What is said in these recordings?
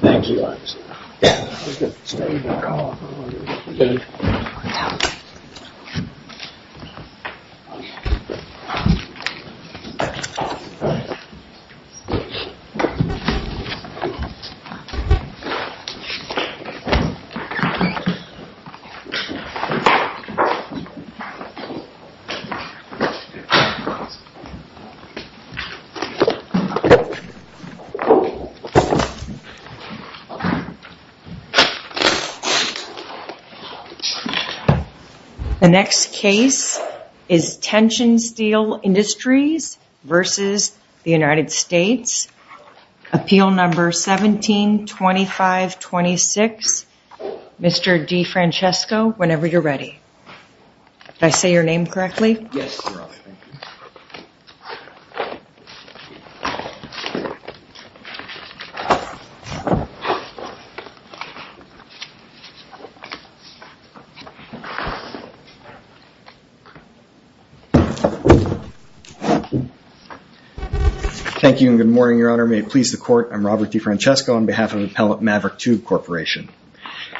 Thanks, Elias. OK. The next case is Tension Steel Industries v. The United States, Appeal No. 17-2526, Mr. DeFrancesco, whenever you're ready. Did I say your name correctly? Yes, Your Honor. Thank you and good morning, Your Honor. May it please the Court, I'm Robert DeFrancesco on behalf of Appellate Maverick 2 Corporation.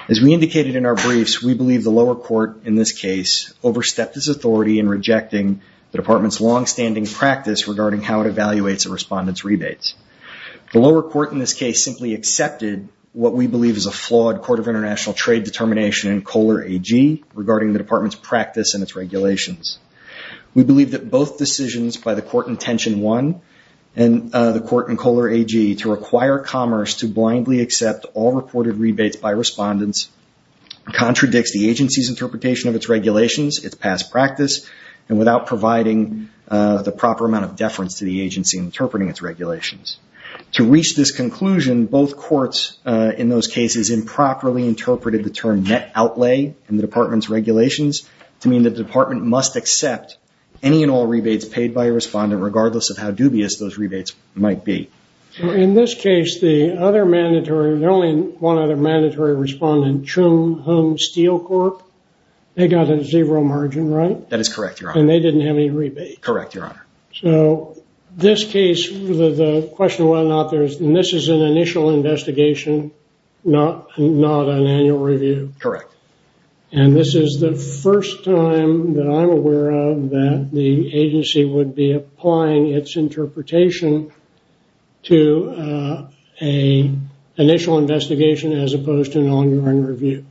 As we indicated in our briefs, we believe the lower court in this case overstepped its authority in rejecting the Department's longstanding practice regarding how it evaluates a respondent's rebates. The lower court in this case simply accepted what we believe is a flawed Court of International Trade determination in Kohler AG regarding the Department's practice and its regulations. We believe that both decisions by the Court in Tension 1 and the Court in Kohler AG to require commerce to blindly accept all reported rebates by respondents contradicts the agency's interpretation of its regulations, its past practice, and without providing the proper amount of deference to the agency interpreting its regulations. To reach this conclusion, both courts in those cases improperly interpreted the term net outlay in the Department's regulations to mean that the Department must accept any and all rebates paid by a respondent regardless of how dubious those rebates might be. In this case, the other mandatory, there's only one other mandatory respondent, Chung Hung Steel Corp. They got a zero margin, right? That is correct, Your Honor. And they didn't have any rebate. Correct, Your Honor. So, this case, the question of whether or not there's, and this is an initial investigation, not an annual review. Correct. And this is the first time that I'm aware of that the agency would be applying its interpretation to an initial investigation as opposed to an ongoing review.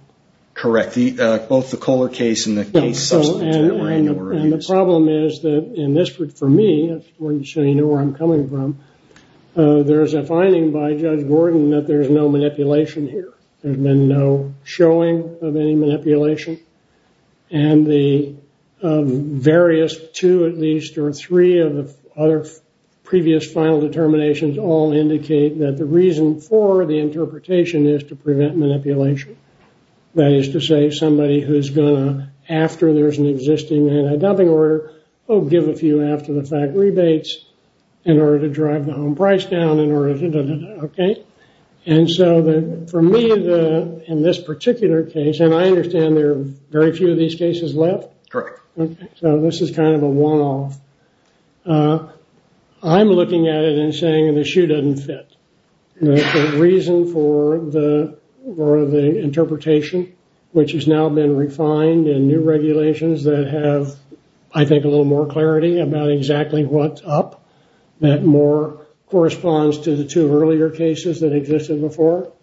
Correct. Both the Kohler case and the case subsequent to that were annual reviews. And the problem is that in this, for me, so you know where I'm coming from, there's a finding by Judge Gordon that there's no manipulation here. There's been no showing of any manipulation. And the various two, at least, or three of the other previous final determinations all indicate that the reason for the interpretation is to prevent manipulation. That is to say, somebody who's going to, after there's an existing anti-dumping order, oh, give a few after-the-fact rebates in order to drive the home price down, in order to, okay? And so, for me, in this particular case, and I understand there are very few of these cases left. Correct. So, this is kind of a one-off. I'm looking at it and saying the shoe doesn't fit. The reason for the interpretation, which has now been refined in new regulations that have, I think, a little more clarity about exactly what's up, that more corresponds to the two earlier cases that existed before,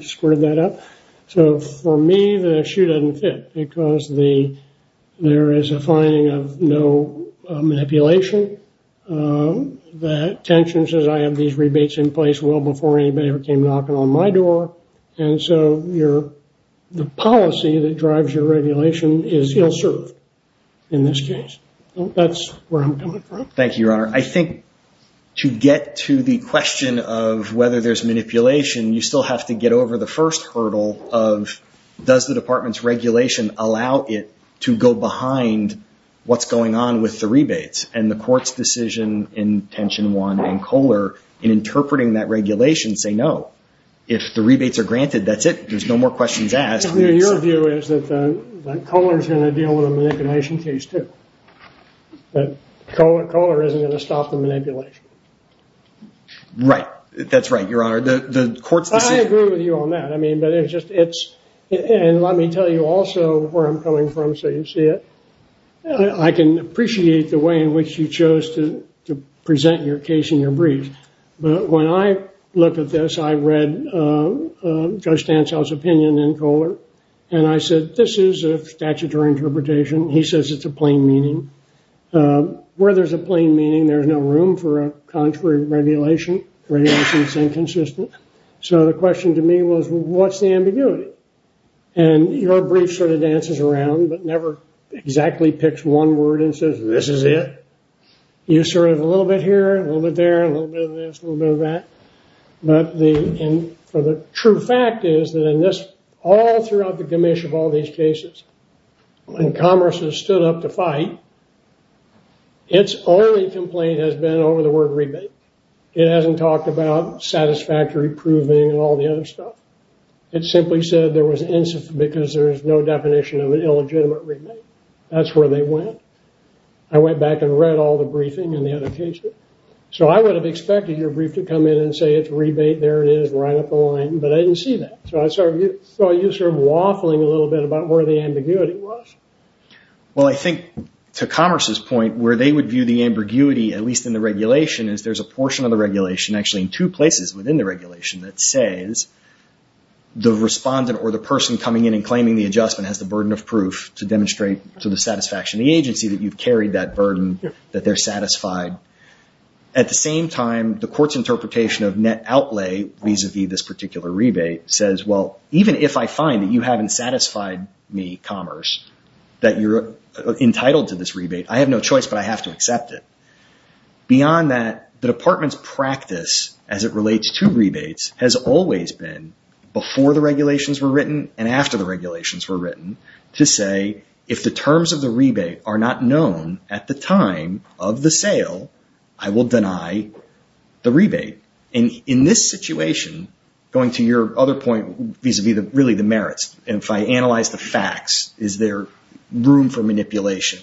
squared that up. So, for me, the shoe doesn't fit because there is a finding of no manipulation. The attention says I have these rebates in place well before anybody ever came knocking on my door. And so, the policy that drives your regulation is ill-served in this case. That's where I'm coming from. Thank you, Your Honor. I think to get to the question of whether there's manipulation, you still have to get over the first hurdle of does the department's regulation allow it to go behind what's going on with the rebates? And the court's decision in Tension 1 and Kohler in interpreting that regulation say no. If the rebates are granted, that's it. There's no more questions asked. Your view is that Kohler's going to deal with a manipulation case, too. Kohler isn't going to stop the manipulation. Right. That's right, Your Honor. I agree with you on that. And let me tell you also where I'm coming from so you see it. I can appreciate the way in which you chose to present your case in your brief. But when I looked at this, I read Judge Stansell's opinion in Kohler. And I said, this is a statutory interpretation. He says it's a plain meaning. Where there's a plain meaning, there's no room for a contrary regulation. Regulation is inconsistent. So, the question to me was, what's the ambiguity? And your brief sort of dances around but never exactly picks one word and says, this is it. You sort of, a little bit here, a little bit there, a little bit of this, a little bit of that. But the true fact is that in this, all throughout the gamish of all these cases, when Congress has stood up to fight, its only complaint has been over the word rebate. It hasn't talked about satisfactory proving and all the other stuff. It simply said there was, because there's no definition of an illegitimate rebate. That's where they went. I went back and read all the briefing and the other cases. So, I would have expected your brief to come in and say it's rebate, there it is, right up the line. But I didn't see that. So, I saw you sort of waffling a little bit about where the ambiguity was. Well, I think to Commerce's point, where they would view the ambiguity, at least in the regulation, is there's a portion of the regulation, actually in two places within the regulation, that says the respondent or the person coming in and claiming the adjustment has the burden of proof to demonstrate to the satisfaction of the agency that you've carried that burden, that they're satisfied. At the same time, the court's interpretation of net outlay vis-a-vis this particular rebate says, well, even if I find that you haven't satisfied me, Commerce, that you're entitled to this rebate, I have no choice but I have to accept it. Beyond that, the department's practice as it relates to rebates has always been, before the regulations were written and after the regulations were written, to say, if the terms of the rebate are not known at the time of the sale, I will deny the rebate. In this situation, going to your other point vis-a-vis really the merits, if I analyze the facts, is there room for manipulation?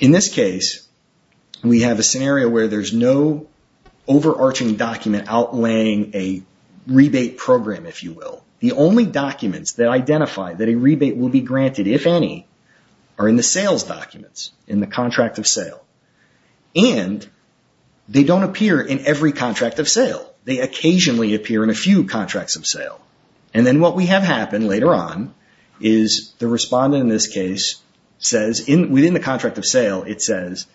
In this case, we have a scenario where there's no overarching document outlaying a rebate program, if you will. The only documents that identify that a rebate will be granted, if any, are in the sales documents, in the contract of sale. And they don't appear in every contract of sale. And then what we have happen later on is the respondent in this case says, within the contract of sale, it says,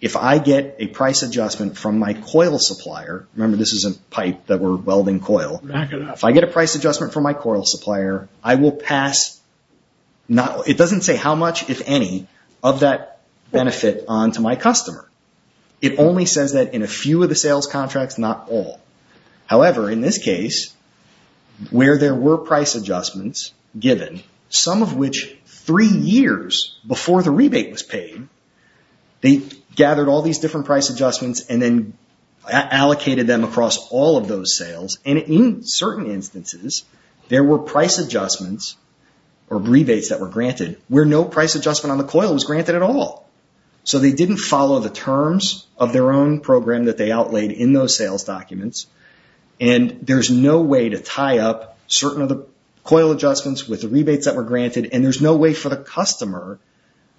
if I get a price adjustment from my coil supplier, remember this is a pipe that we're welding coil, if I get a price adjustment from my coil supplier, I will pass, it doesn't say how much, if any, of that benefit on to my customer. It only says that in a few of the sales contracts, not all. However, in this case, where there were price adjustments given, some of which three years before the rebate was paid, they gathered all these different price adjustments and then allocated them across all of those sales. And in certain instances, there were price adjustments or rebates that were granted, where no price adjustment on the coil was granted at all. So they didn't follow the terms of their own program that they outlaid in those sales documents. And there's no way to tie up certain of the coil adjustments with the rebates that were granted. And there's no way for the customer,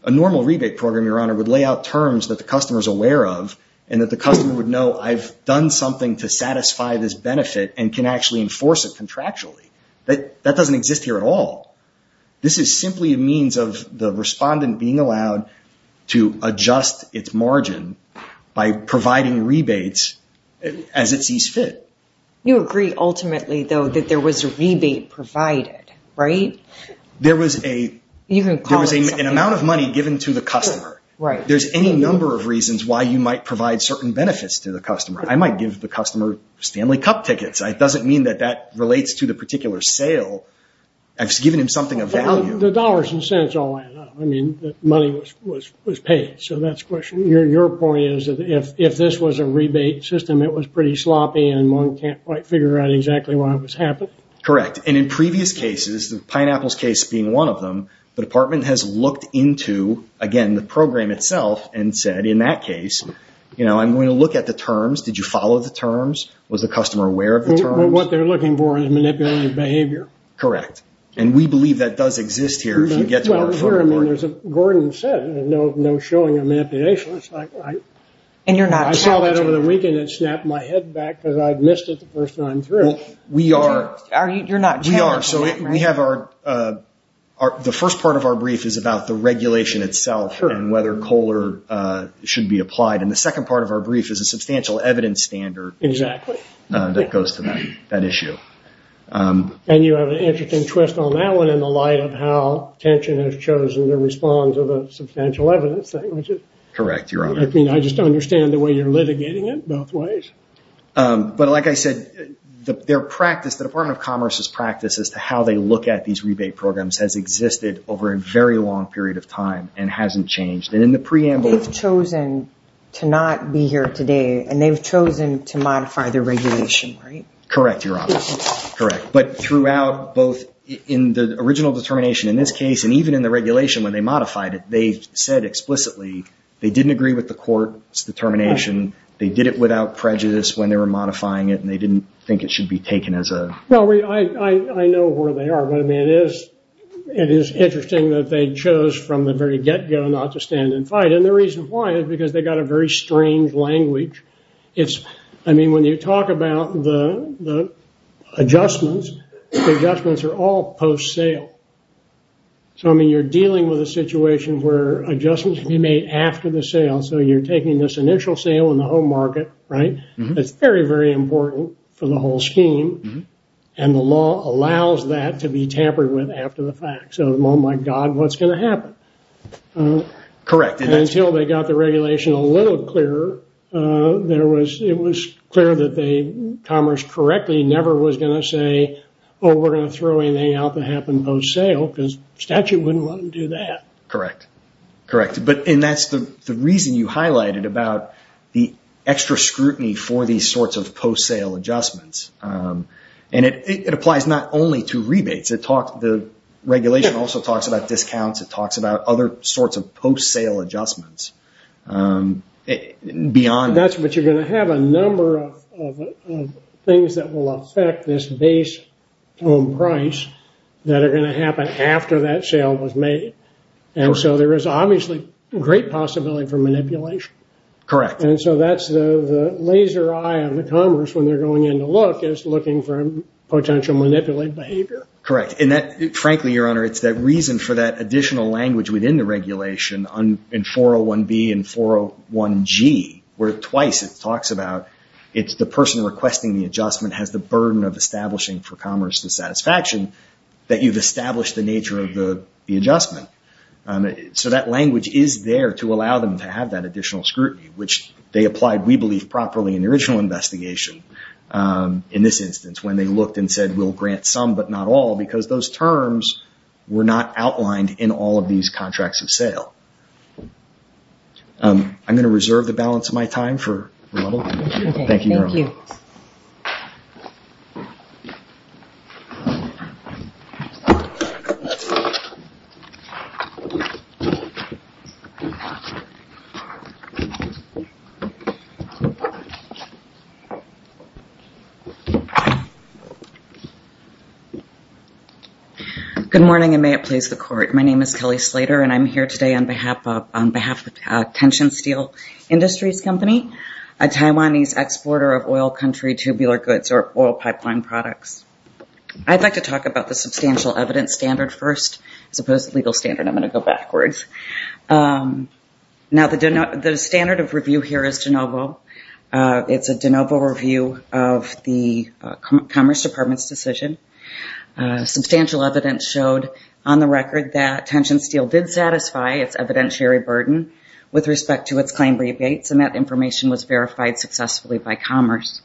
a normal rebate program, Your Honor, would lay out terms that the customer is aware of and that the customer would know, I've done something to satisfy this benefit and can actually enforce it contractually. That doesn't exist here at all. This is simply a means of the respondent being allowed to adjust its margin by providing rebates as it sees fit. You agree, ultimately, though, that there was a rebate provided, right? There was an amount of money given to the customer. There's any number of reasons why you might provide certain benefits to the customer. I might give the customer Stanley Cup tickets. It doesn't mean that that relates to the particular sale. I've just given him something of value. The dollars and cents all add up. I mean, the money was paid, so that's a question. Your point is that if this was a rebate system, it was pretty sloppy and one can't quite figure out exactly why it was happening? Correct. And in previous cases, the pineapples case being one of them, the department has looked into, again, the program itself and said, in that case, I'm going to look at the terms. Did you follow the terms? Was the customer aware of the terms? What they're looking for is manipulative behavior. Correct. And we believe that does exist here. Gordon said no showing of manipulation. I saw that over the weekend. It snapped my head back because I missed it the first time through. We are. You're not challenged. We are. The first part of our brief is about the regulation itself and whether COLA should be applied. And the second part of our brief is a substantial evidence standard. Exactly. That goes to that issue. And you have an interesting twist on that one in the light of how Tension has chosen to respond to the substantial evidence thing. Correct, Your Honor. I just understand the way you're litigating it both ways. But like I said, their practice, the Department of Commerce's practice as to how they look at these rebate programs has existed over a very long period of time and hasn't changed. And in the preamble- to not be here today. And they've chosen to modify the regulation, right? Correct, Your Honor. Correct. But throughout both in the original determination in this case and even in the regulation when they modified it, they said explicitly they didn't agree with the court's determination. They did it without prejudice when they were modifying it and they didn't think it should be taken as a- Well, I know where they are. But it is interesting that they chose from the very get-go not to stand and fight. And the reason why is because they've got a very strange language. I mean, when you talk about the adjustments, the adjustments are all post-sale. So, I mean, you're dealing with a situation where adjustments can be made after the sale. So, you're taking this initial sale in the home market, right? It's very, very important for the whole scheme. And the law allows that to be tampered with after the fact. So, oh my God, what's going to happen? Correct. And until they got the regulation a little clearer, it was clear that commerce correctly never was going to say, oh, we're going to throw anything out that happened post-sale because statute wouldn't want to do that. Correct. Correct. And that's the reason you highlighted about the extra scrutiny for these sorts of post-sale adjustments. And it applies not only to rebates. The regulation also talks about discounts. It talks about other sorts of post-sale adjustments beyond. That's what you're going to have a number of things that will affect this base home price that are going to happen after that sale was made. And so there is obviously great possibility for manipulation. Correct. And so that's the laser eye of the commerce when they're going in to look is looking for potential manipulate behavior. Correct. Frankly, Your Honor, it's that reason for that additional language within the regulation in 401B and 401G where twice it talks about it's the person requesting the adjustment has the burden of establishing for commerce the satisfaction that you've established the nature of the adjustment. So that language is there to allow them to have that additional scrutiny, which they applied, we believe, properly in the original investigation in this instance when they looked and said we'll grant some but not all because those terms were not outlined in all of these contracts of sale. I'm going to reserve the balance of my time for rebuttal. Thank you, Your Honor. Thank you. Good morning and may it please the court. My name is Kelly Slater and I'm here today on behalf of Tension Steel Industries Company, a Taiwanese exporter of oil country tubular goods or oil pipeline products. I'd like to talk about the substantial evidence standard first as opposed to legal standard. I'm going to go backwards. Now the standard of review here is de novo. It's a de novo review of the Commerce Department's decision. Substantial evidence showed on the record that Tension Steel did satisfy its evidentiary burden with respect to its claim rebates and that information was verified successfully by Commerce.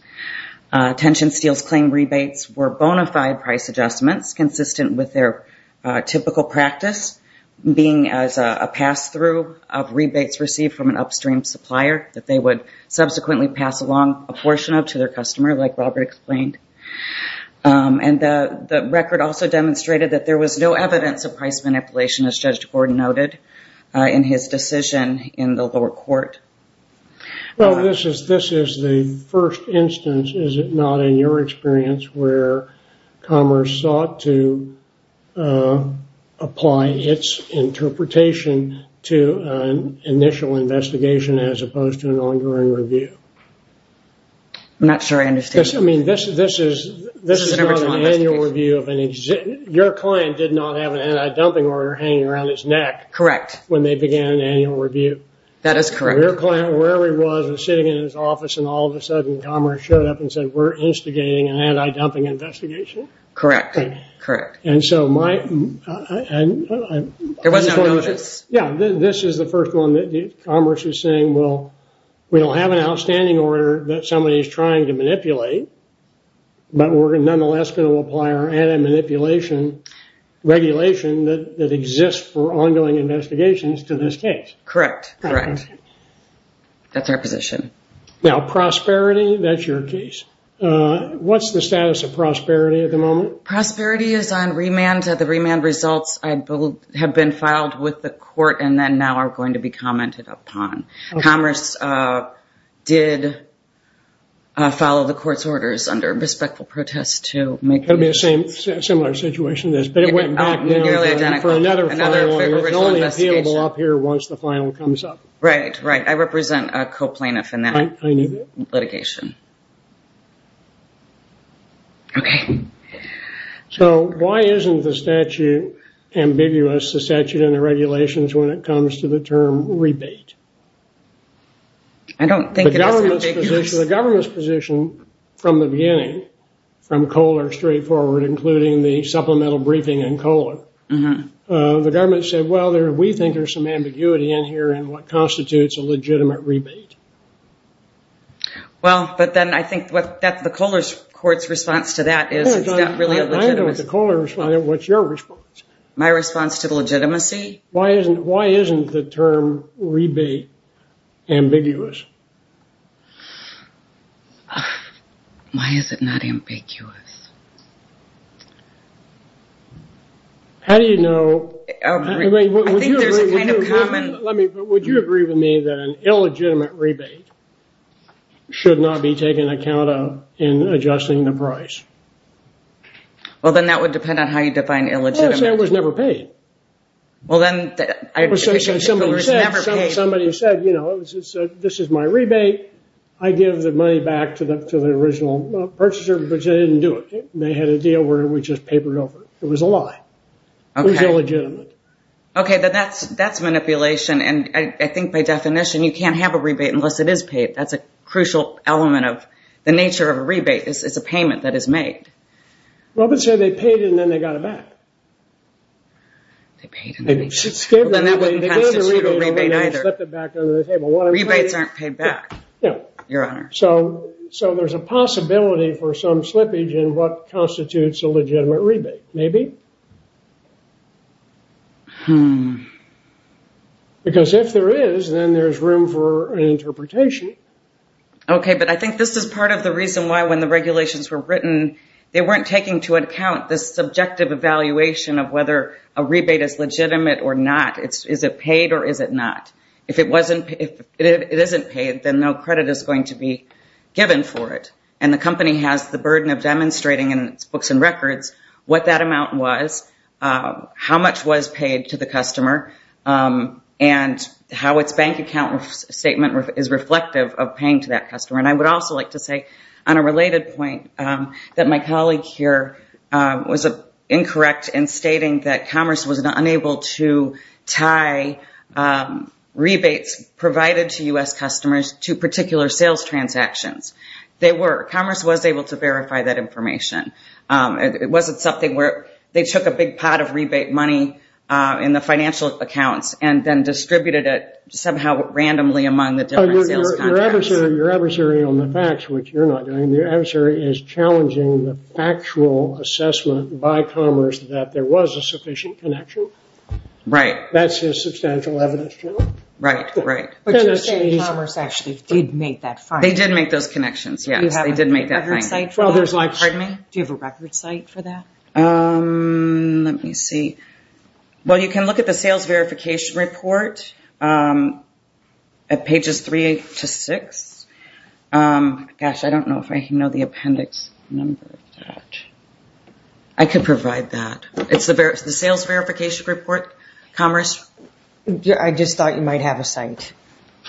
Tension Steel's claim rebates were bona fide price adjustments consistent with their typical practice, being as a pass-through of rebates received from an upstream supplier that they would subsequently pass along a portion of to their customer, like Robert explained. And the record also demonstrated that there was no evidence of price manipulation, as Judge Gordon noted, in his decision in the lower court. Well, this is the first instance, is it not, in your experience, where Commerce sought to apply its interpretation to an initial investigation as opposed to an ongoing review? I'm not sure I understand. I mean, this is not an annual review. Your client did not have an anti-dumping order hanging around his neck when they began an annual review. That is correct. Your client, wherever he was, was sitting in his office, and all of a sudden Commerce showed up and said, we're instigating an anti-dumping investigation? Correct. And so my— There was no notice. Yeah, this is the first one that Commerce is saying, well, we don't have an outstanding order that somebody is trying to manipulate, but we're nonetheless going to apply our anti-manipulation regulation that exists for ongoing investigations to this case. Correct, correct. That's our position. Now, Prosperity, that's your case. What's the status of Prosperity at the moment? Prosperity is on remand. The remand results have been filed with the court and then now are going to be commented upon. Commerce did follow the court's orders under respectful protest to make— Could be a similar situation as this, but it went back now for another filing. It's only appealable up here once the final comes up. Right, right. I represent a co-plaintiff in that litigation. Okay. So why isn't the statute ambiguous, the statute and the regulations, when it comes to the term rebate? I don't think it is ambiguous. The government's position from the beginning, from Kohler straightforward, including the supplemental briefing in Kohler, the government said, well, we think there's some ambiguity in here in what constitutes a legitimate rebate. Well, but then I think what the Kohler court's response to that is, is that really a legitimacy? I don't know what the Kohler's response is. What's your response? My response to the legitimacy? Why isn't the term rebate ambiguous? Why is it not ambiguous? How do you know? I think there's a kind of common— Would you agree with me that an illegitimate rebate should not be taken account of in adjusting the price? Well, then that would depend on how you define illegitimate. Well, it was never paid. Well, then— Somebody said, you know, this is my rebate. I give the money back to the original purchaser, but they didn't do it. They had a deal where we just papered over it. It was a lie. Okay. It was illegitimate. Okay, then that's manipulation, and I think by definition you can't have a rebate unless it is paid. That's a crucial element of the nature of a rebate. It's a payment that is made. Well, but say they paid and then they got it back. They paid and then they got it back. Well, then that wouldn't constitute a rebate either. Rebates aren't paid back, Your Honor. So there's a possibility for some slippage in what constitutes a legitimate rebate, maybe. Because if there is, then there's room for an interpretation. Okay, but I think this is part of the reason why when the regulations were written they weren't taking into account the subjective evaluation of whether a rebate is legitimate or not. Is it paid or is it not? If it isn't paid, then no credit is going to be given for it, and the company has the burden of demonstrating in its books and records what that amount was, how much was paid to the customer, and how its bank account statement is reflective of paying to that customer. And I would also like to say on a related point that my colleague here was incorrect in stating that Commerce was unable to tie rebates provided to U.S. customers to particular sales transactions. Commerce was able to verify that information. It wasn't something where they took a big pot of rebate money in the financial accounts and then distributed it somehow randomly among the different sales contracts. Your adversary on the facts, which you're not doing, your adversary is challenging the factual assessment by Commerce that there was a sufficient connection. Right. That's his substantial evidence. Right, right. But you're saying Commerce actually did make that finding? They did make those connections, yes. Do you have a record site for that? Pardon me? Do you have a record site for that? Let me see. Well, you can look at the sales verification report at pages 3 to 6. Gosh, I don't know if I know the appendix number of that. I could provide that. It's the sales verification report, Commerce. I just thought you might have a site.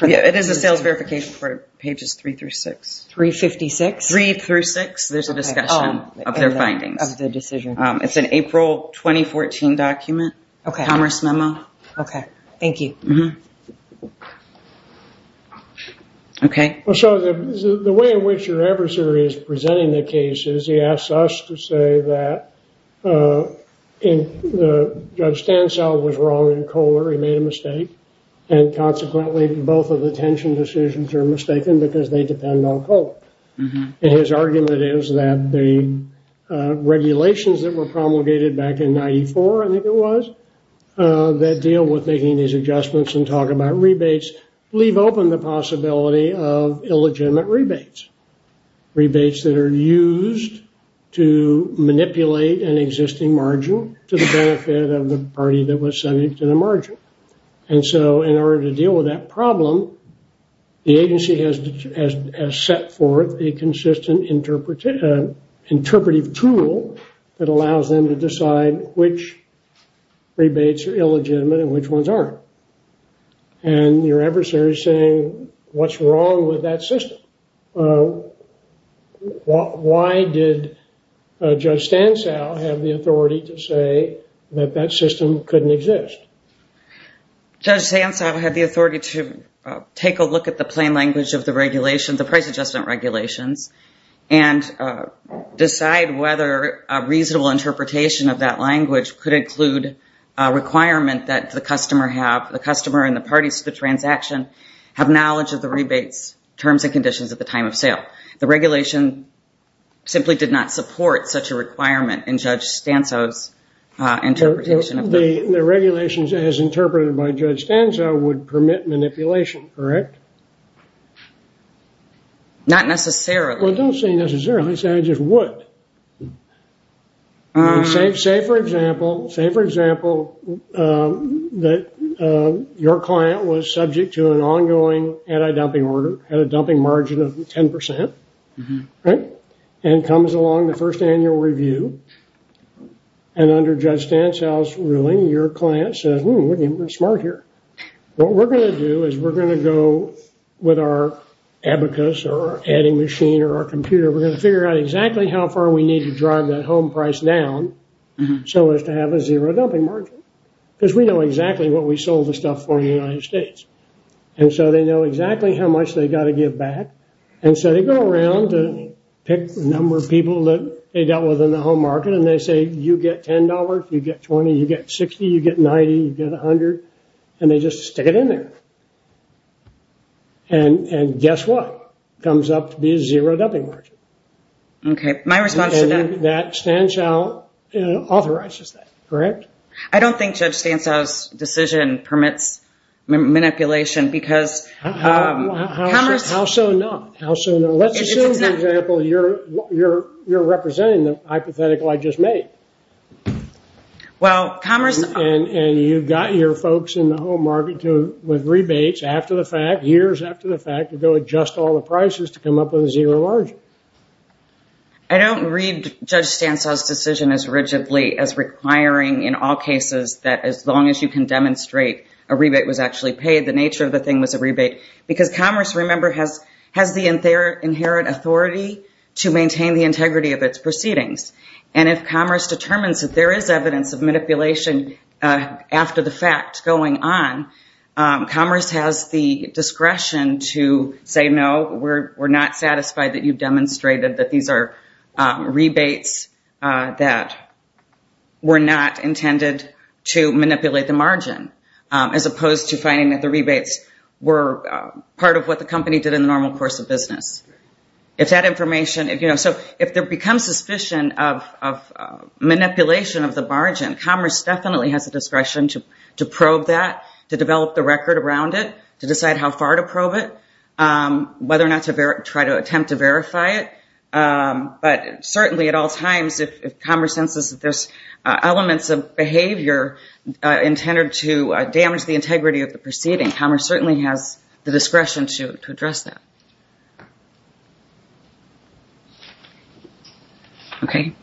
It is a sales verification report, pages 3 through 6. 356? 3 through 6, there's a discussion of their findings. Of the decision. It's an April 2014 document, Commerce memo. Okay, thank you. Okay. The way in which your adversary is presenting the case is he asks us to say that Judge Stansell was wrong in Kohler. He made a mistake. And consequently, both of the tension decisions are mistaken because they depend on Kohler. And his argument is that the regulations that were promulgated back in 94, I think it was, that deal with making these adjustments and talk about rebates, leave open the possibility of illegitimate rebates. Rebates that are used to manipulate an existing margin to the benefit of the party that was subject to the margin. And so in order to deal with that problem, the agency has set forth a consistent interpretive tool that allows them to decide which rebates are illegitimate and which ones aren't. And your adversary is saying, what's wrong with that system? Why did Judge Stansell have the authority to say that that system couldn't exist? Judge Stansell had the authority to take a look at the plain language of the regulation, the price adjustment regulations, and decide whether a reasonable interpretation of that language could include a requirement that the customer have, the customer and the parties to the transaction have knowledge of the rebates, terms and conditions at the time of sale. The regulation simply did not support such a requirement in Judge Stansell's interpretation. The regulations as interpreted by Judge Stansell would permit manipulation, correct? Not necessarily. Well, don't say necessarily. Say I just would. Say, for example, say, for example, that your client was subject to an ongoing anti-dumping order at a dumping margin of 10%, right? And comes along the first annual review. And under Judge Stansell's ruling, your client says, hmm, we're smart here. What we're going to do is we're going to go with our abacus or adding machine or our computer. We're going to figure out exactly how far we need to drive that home price down so as to have a zero dumping margin. Because we know exactly what we sold the stuff for in the United States. And so they know exactly how much they've got to give back. And so they go around to pick the number of people that they dealt with in the home market. And they say, you get $10, you get $20, you get $60, you get $90, you get $100. And they just stick it in there. And guess what? Comes up to be a zero dumping margin. Okay. My response to that. And that Stansell authorizes that, correct? I don't think Judge Stansell's decision permits manipulation because commerce. How so not? How so not? Let's assume, for example, you're representing the hypothetical I just made. Well, commerce. And you've got your folks in the home market with rebates after the fact, years after the fact, to go adjust all the prices to come up with a zero margin. I don't read Judge Stansell's decision as rigidly as requiring, in all cases, that as long as you can demonstrate a rebate was actually paid, the nature of the thing was a rebate. Because commerce, remember, has the inherent authority to maintain the integrity of its proceedings. And if commerce determines that there is evidence of manipulation after the fact going on, commerce has the discretion to say, no, we're not satisfied that you've demonstrated that these are rebates that were not intended to manipulate the margin, as opposed to finding that the rebates were part of what the company did in the normal course of business. If that information, you know, so if there becomes suspicion of manipulation of the margin, commerce definitely has the discretion to probe that, to develop the record around it, to decide how far to probe it, whether or not to try to attempt to verify it. But certainly at all times, if commerce senses that there's elements of behavior intended to damage the integrity of the proceeding, commerce certainly has the discretion to address that. Okay.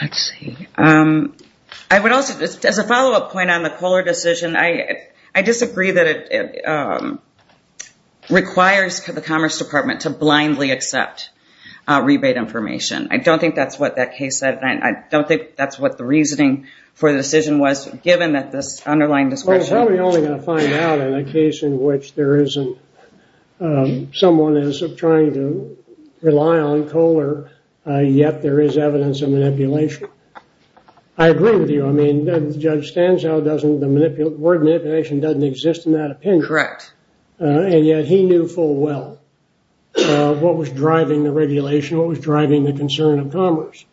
Let's see. I would also, as a follow-up point on the Kohler decision, I disagree that it requires the Commerce Department to blindly accept rebate information. I don't think that's what that case said, and I don't think that's what the reasoning for the decision was, given that this underlying discretion. Well, it's probably only going to find out in a case in which there isn't, someone is trying to rely on Kohler, yet there is evidence of manipulation. I agree with you. I mean, Judge Stanzow doesn't, the word manipulation doesn't exist in that opinion. Correct. And yet he knew full well what was driving the regulation, what was driving the concern of commerce.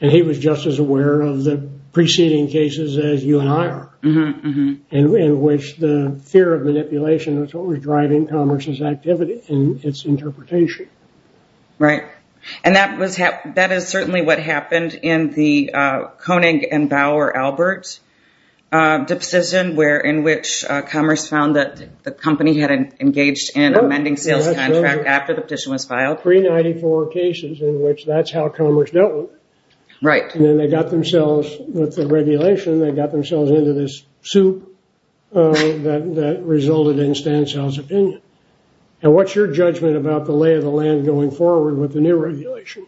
And he was just as aware of the preceding cases as you and I are, in which the fear of manipulation was what was driving commerce's activity and its interpretation. Right. And that is certainly what happened in the Koenig and Bauer-Albert decision, in which commerce found that the company had engaged in an amending sales contract after the petition was filed. There were 394 cases in which that's how commerce dealt with it. Right. And then they got themselves, with the regulation, they got themselves into this soup that resulted in Stanzow's opinion. Now, what's your judgment about the lay of the land going forward with the new regulation?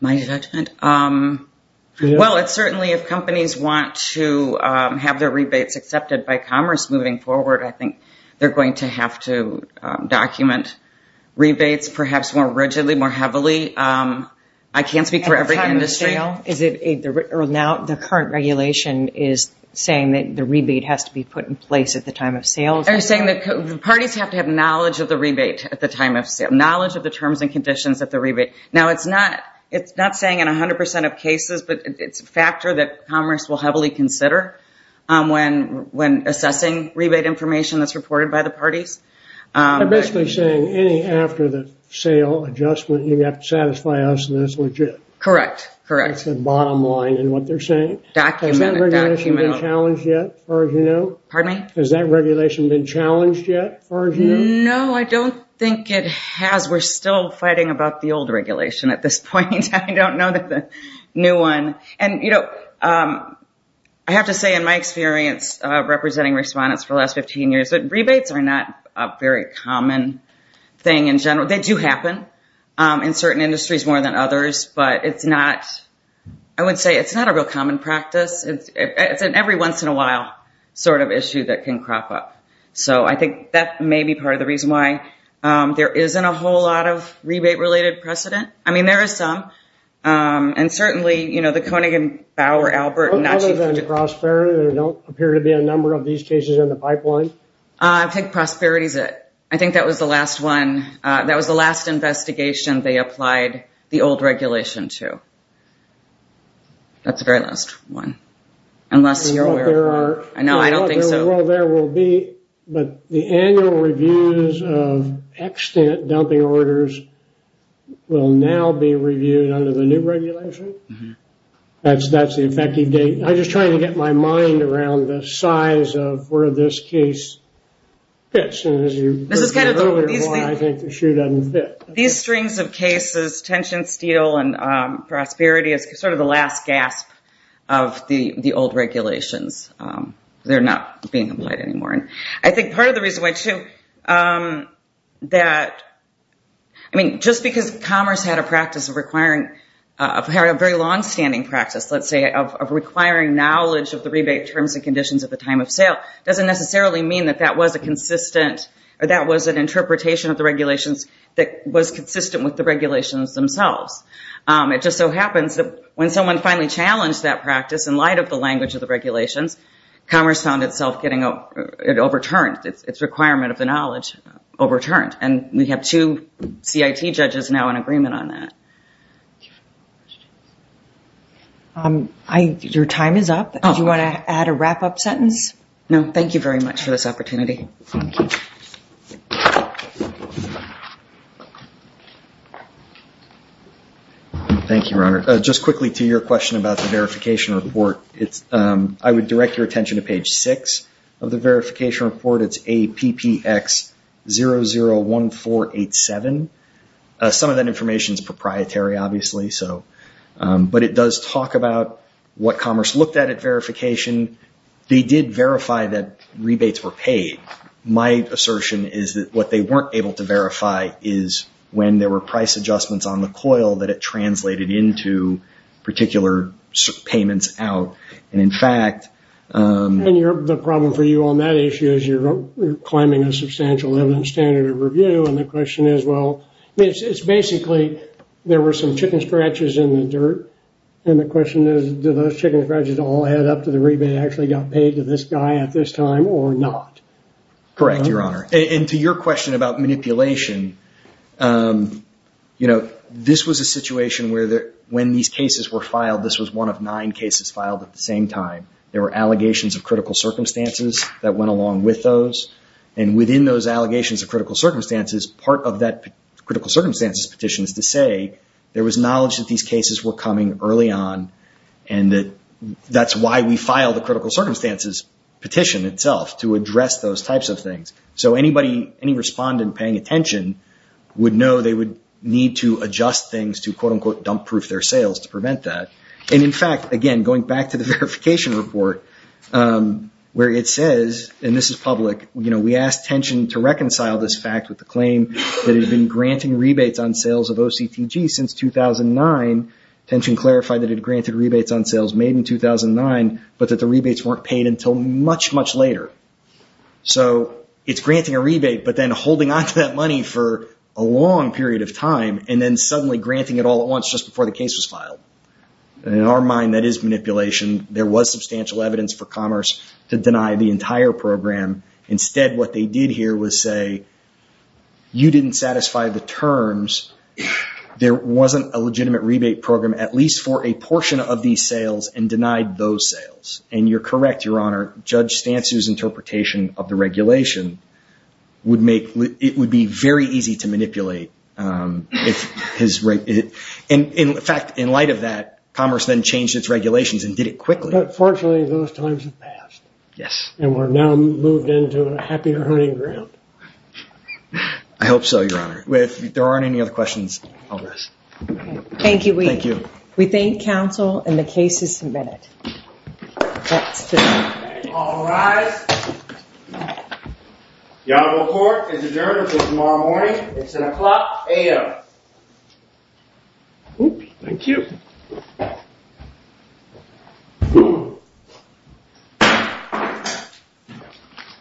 My judgment? Well, it's certainly, if companies want to have their rebates accepted by commerce moving forward, I think they're going to have to document rebates perhaps more rigidly, more heavily. I can't speak for every industry. At the time of sale? Or now the current regulation is saying that the rebate has to be put in place at the time of sale? They're saying that parties have to have knowledge of the rebate at the time of sale, knowledge of the terms and conditions at the rebate. Now, it's not saying in 100 percent of cases, but it's a factor that commerce will heavily consider when assessing rebate information that's reported by the parties. They're basically saying any after-the-sale adjustment, you have to satisfy us, and that's legit. Correct. That's the bottom line in what they're saying. Document it. Has that regulation been challenged yet, as far as you know? Pardon me? Has that regulation been challenged yet, as far as you know? No, I don't think it has. We're still fighting about the old regulation at this point. I don't know the new one. And, you know, I have to say, in my experience representing respondents for the last 15 years, that rebates are not a very common thing in general. They do happen in certain industries more than others, but it's not, I would say, it's not a real common practice. It's an every once in a while sort of issue that can crop up. So I think that may be part of the reason why there isn't a whole lot of rebate-related precedent. I mean, there is some. And certainly, you know, the Koenig and Bauer, Albert, and... Other than prosperity, there don't appear to be a number of these cases in the pipeline. I think prosperity is it. I think that was the last one. That was the last investigation they applied the old regulation to. That's the very last one. Unless you're aware of one. I don't think so. Well, there will be, but the annual reviews of extant dumping orders will now be reviewed under the new regulation. That's the effective date. I'm just trying to get my mind around the size of where this case fits. This is kind of the... I think the shoe doesn't fit. These strings of cases, tension, steel, and prosperity, is sort of the last gasp of the old regulations. They're not being applied anymore. I think part of the reason why, too, that... I mean, just because commerce had a practice of requiring... Had a very long-standing practice, let's say, of requiring knowledge of the rebate terms and conditions at the time of sale, doesn't necessarily mean that that was a consistent... Or that was an interpretation of the regulations that was consistent with the regulations themselves. It just so happens that when someone finally challenged that practice in light of the language of the regulations, commerce found itself getting overturned, its requirement of the knowledge overturned. And we have two CIT judges now in agreement on that. Your time is up. Do you want to add a wrap-up sentence? No, thank you very much for this opportunity. Thank you. Thank you, Ronald. Just quickly to your question about the verification report. I would direct your attention to page 6 of the verification report. It's APPX001487. Some of that information is proprietary, obviously. But it does talk about what commerce looked at at verification. They did verify that rebates were paid. My assertion is that what they weren't able to verify is when there were price adjustments on the coil, that it translated into particular payments out. And, in fact... And the problem for you on that issue is you're claiming a substantial evidence standard of review. And the question is, well... It's basically, there were some chicken scratches in the dirt. And the question is, do those chicken scratches all add up to the rebate actually got paid to this guy at this time or not? Correct, Your Honor. And to your question about manipulation, you know, this was a situation where when these cases were filed, this was one of nine cases filed at the same time. There were allegations of critical circumstances that went along with those. And within those allegations of critical circumstances, part of that critical circumstances petition is to say, there was knowledge that these cases were coming early on, and that that's why we filed the critical circumstances petition itself, to address those types of things. So anybody, any respondent paying attention would know they would need to adjust things to, quote, unquote, dump-proof their sales to prevent that. And, in fact, again, going back to the verification report, where it says, and this is public, you know, rebates on sales of OCTG since 2009. Tension clarified that it had granted rebates on sales made in 2009, but that the rebates weren't paid until much, much later. So it's granting a rebate, but then holding onto that money for a long period of time, and then suddenly granting it all at once just before the case was filed. In our mind, that is manipulation. There was substantial evidence for Commerce to deny the entire program. Instead, what they did here was say, you didn't satisfy the terms. There wasn't a legitimate rebate program, at least for a portion of these sales, and denied those sales. And you're correct, Your Honor. Judge Stansu's interpretation of the regulation would make, it would be very easy to manipulate. In fact, in light of that, Commerce then changed its regulations and did it quickly. But fortunately, those times have passed. Yes. And we're now moved into a happy earning ground. I hope so, Your Honor. If there aren't any other questions, I'll rest. Thank you, Weed. Thank you. We thank counsel, and the case is submitted. All rise. The Honorable Court is adjourned until tomorrow morning. It's an o'clock a.m. Thank you. Thank you.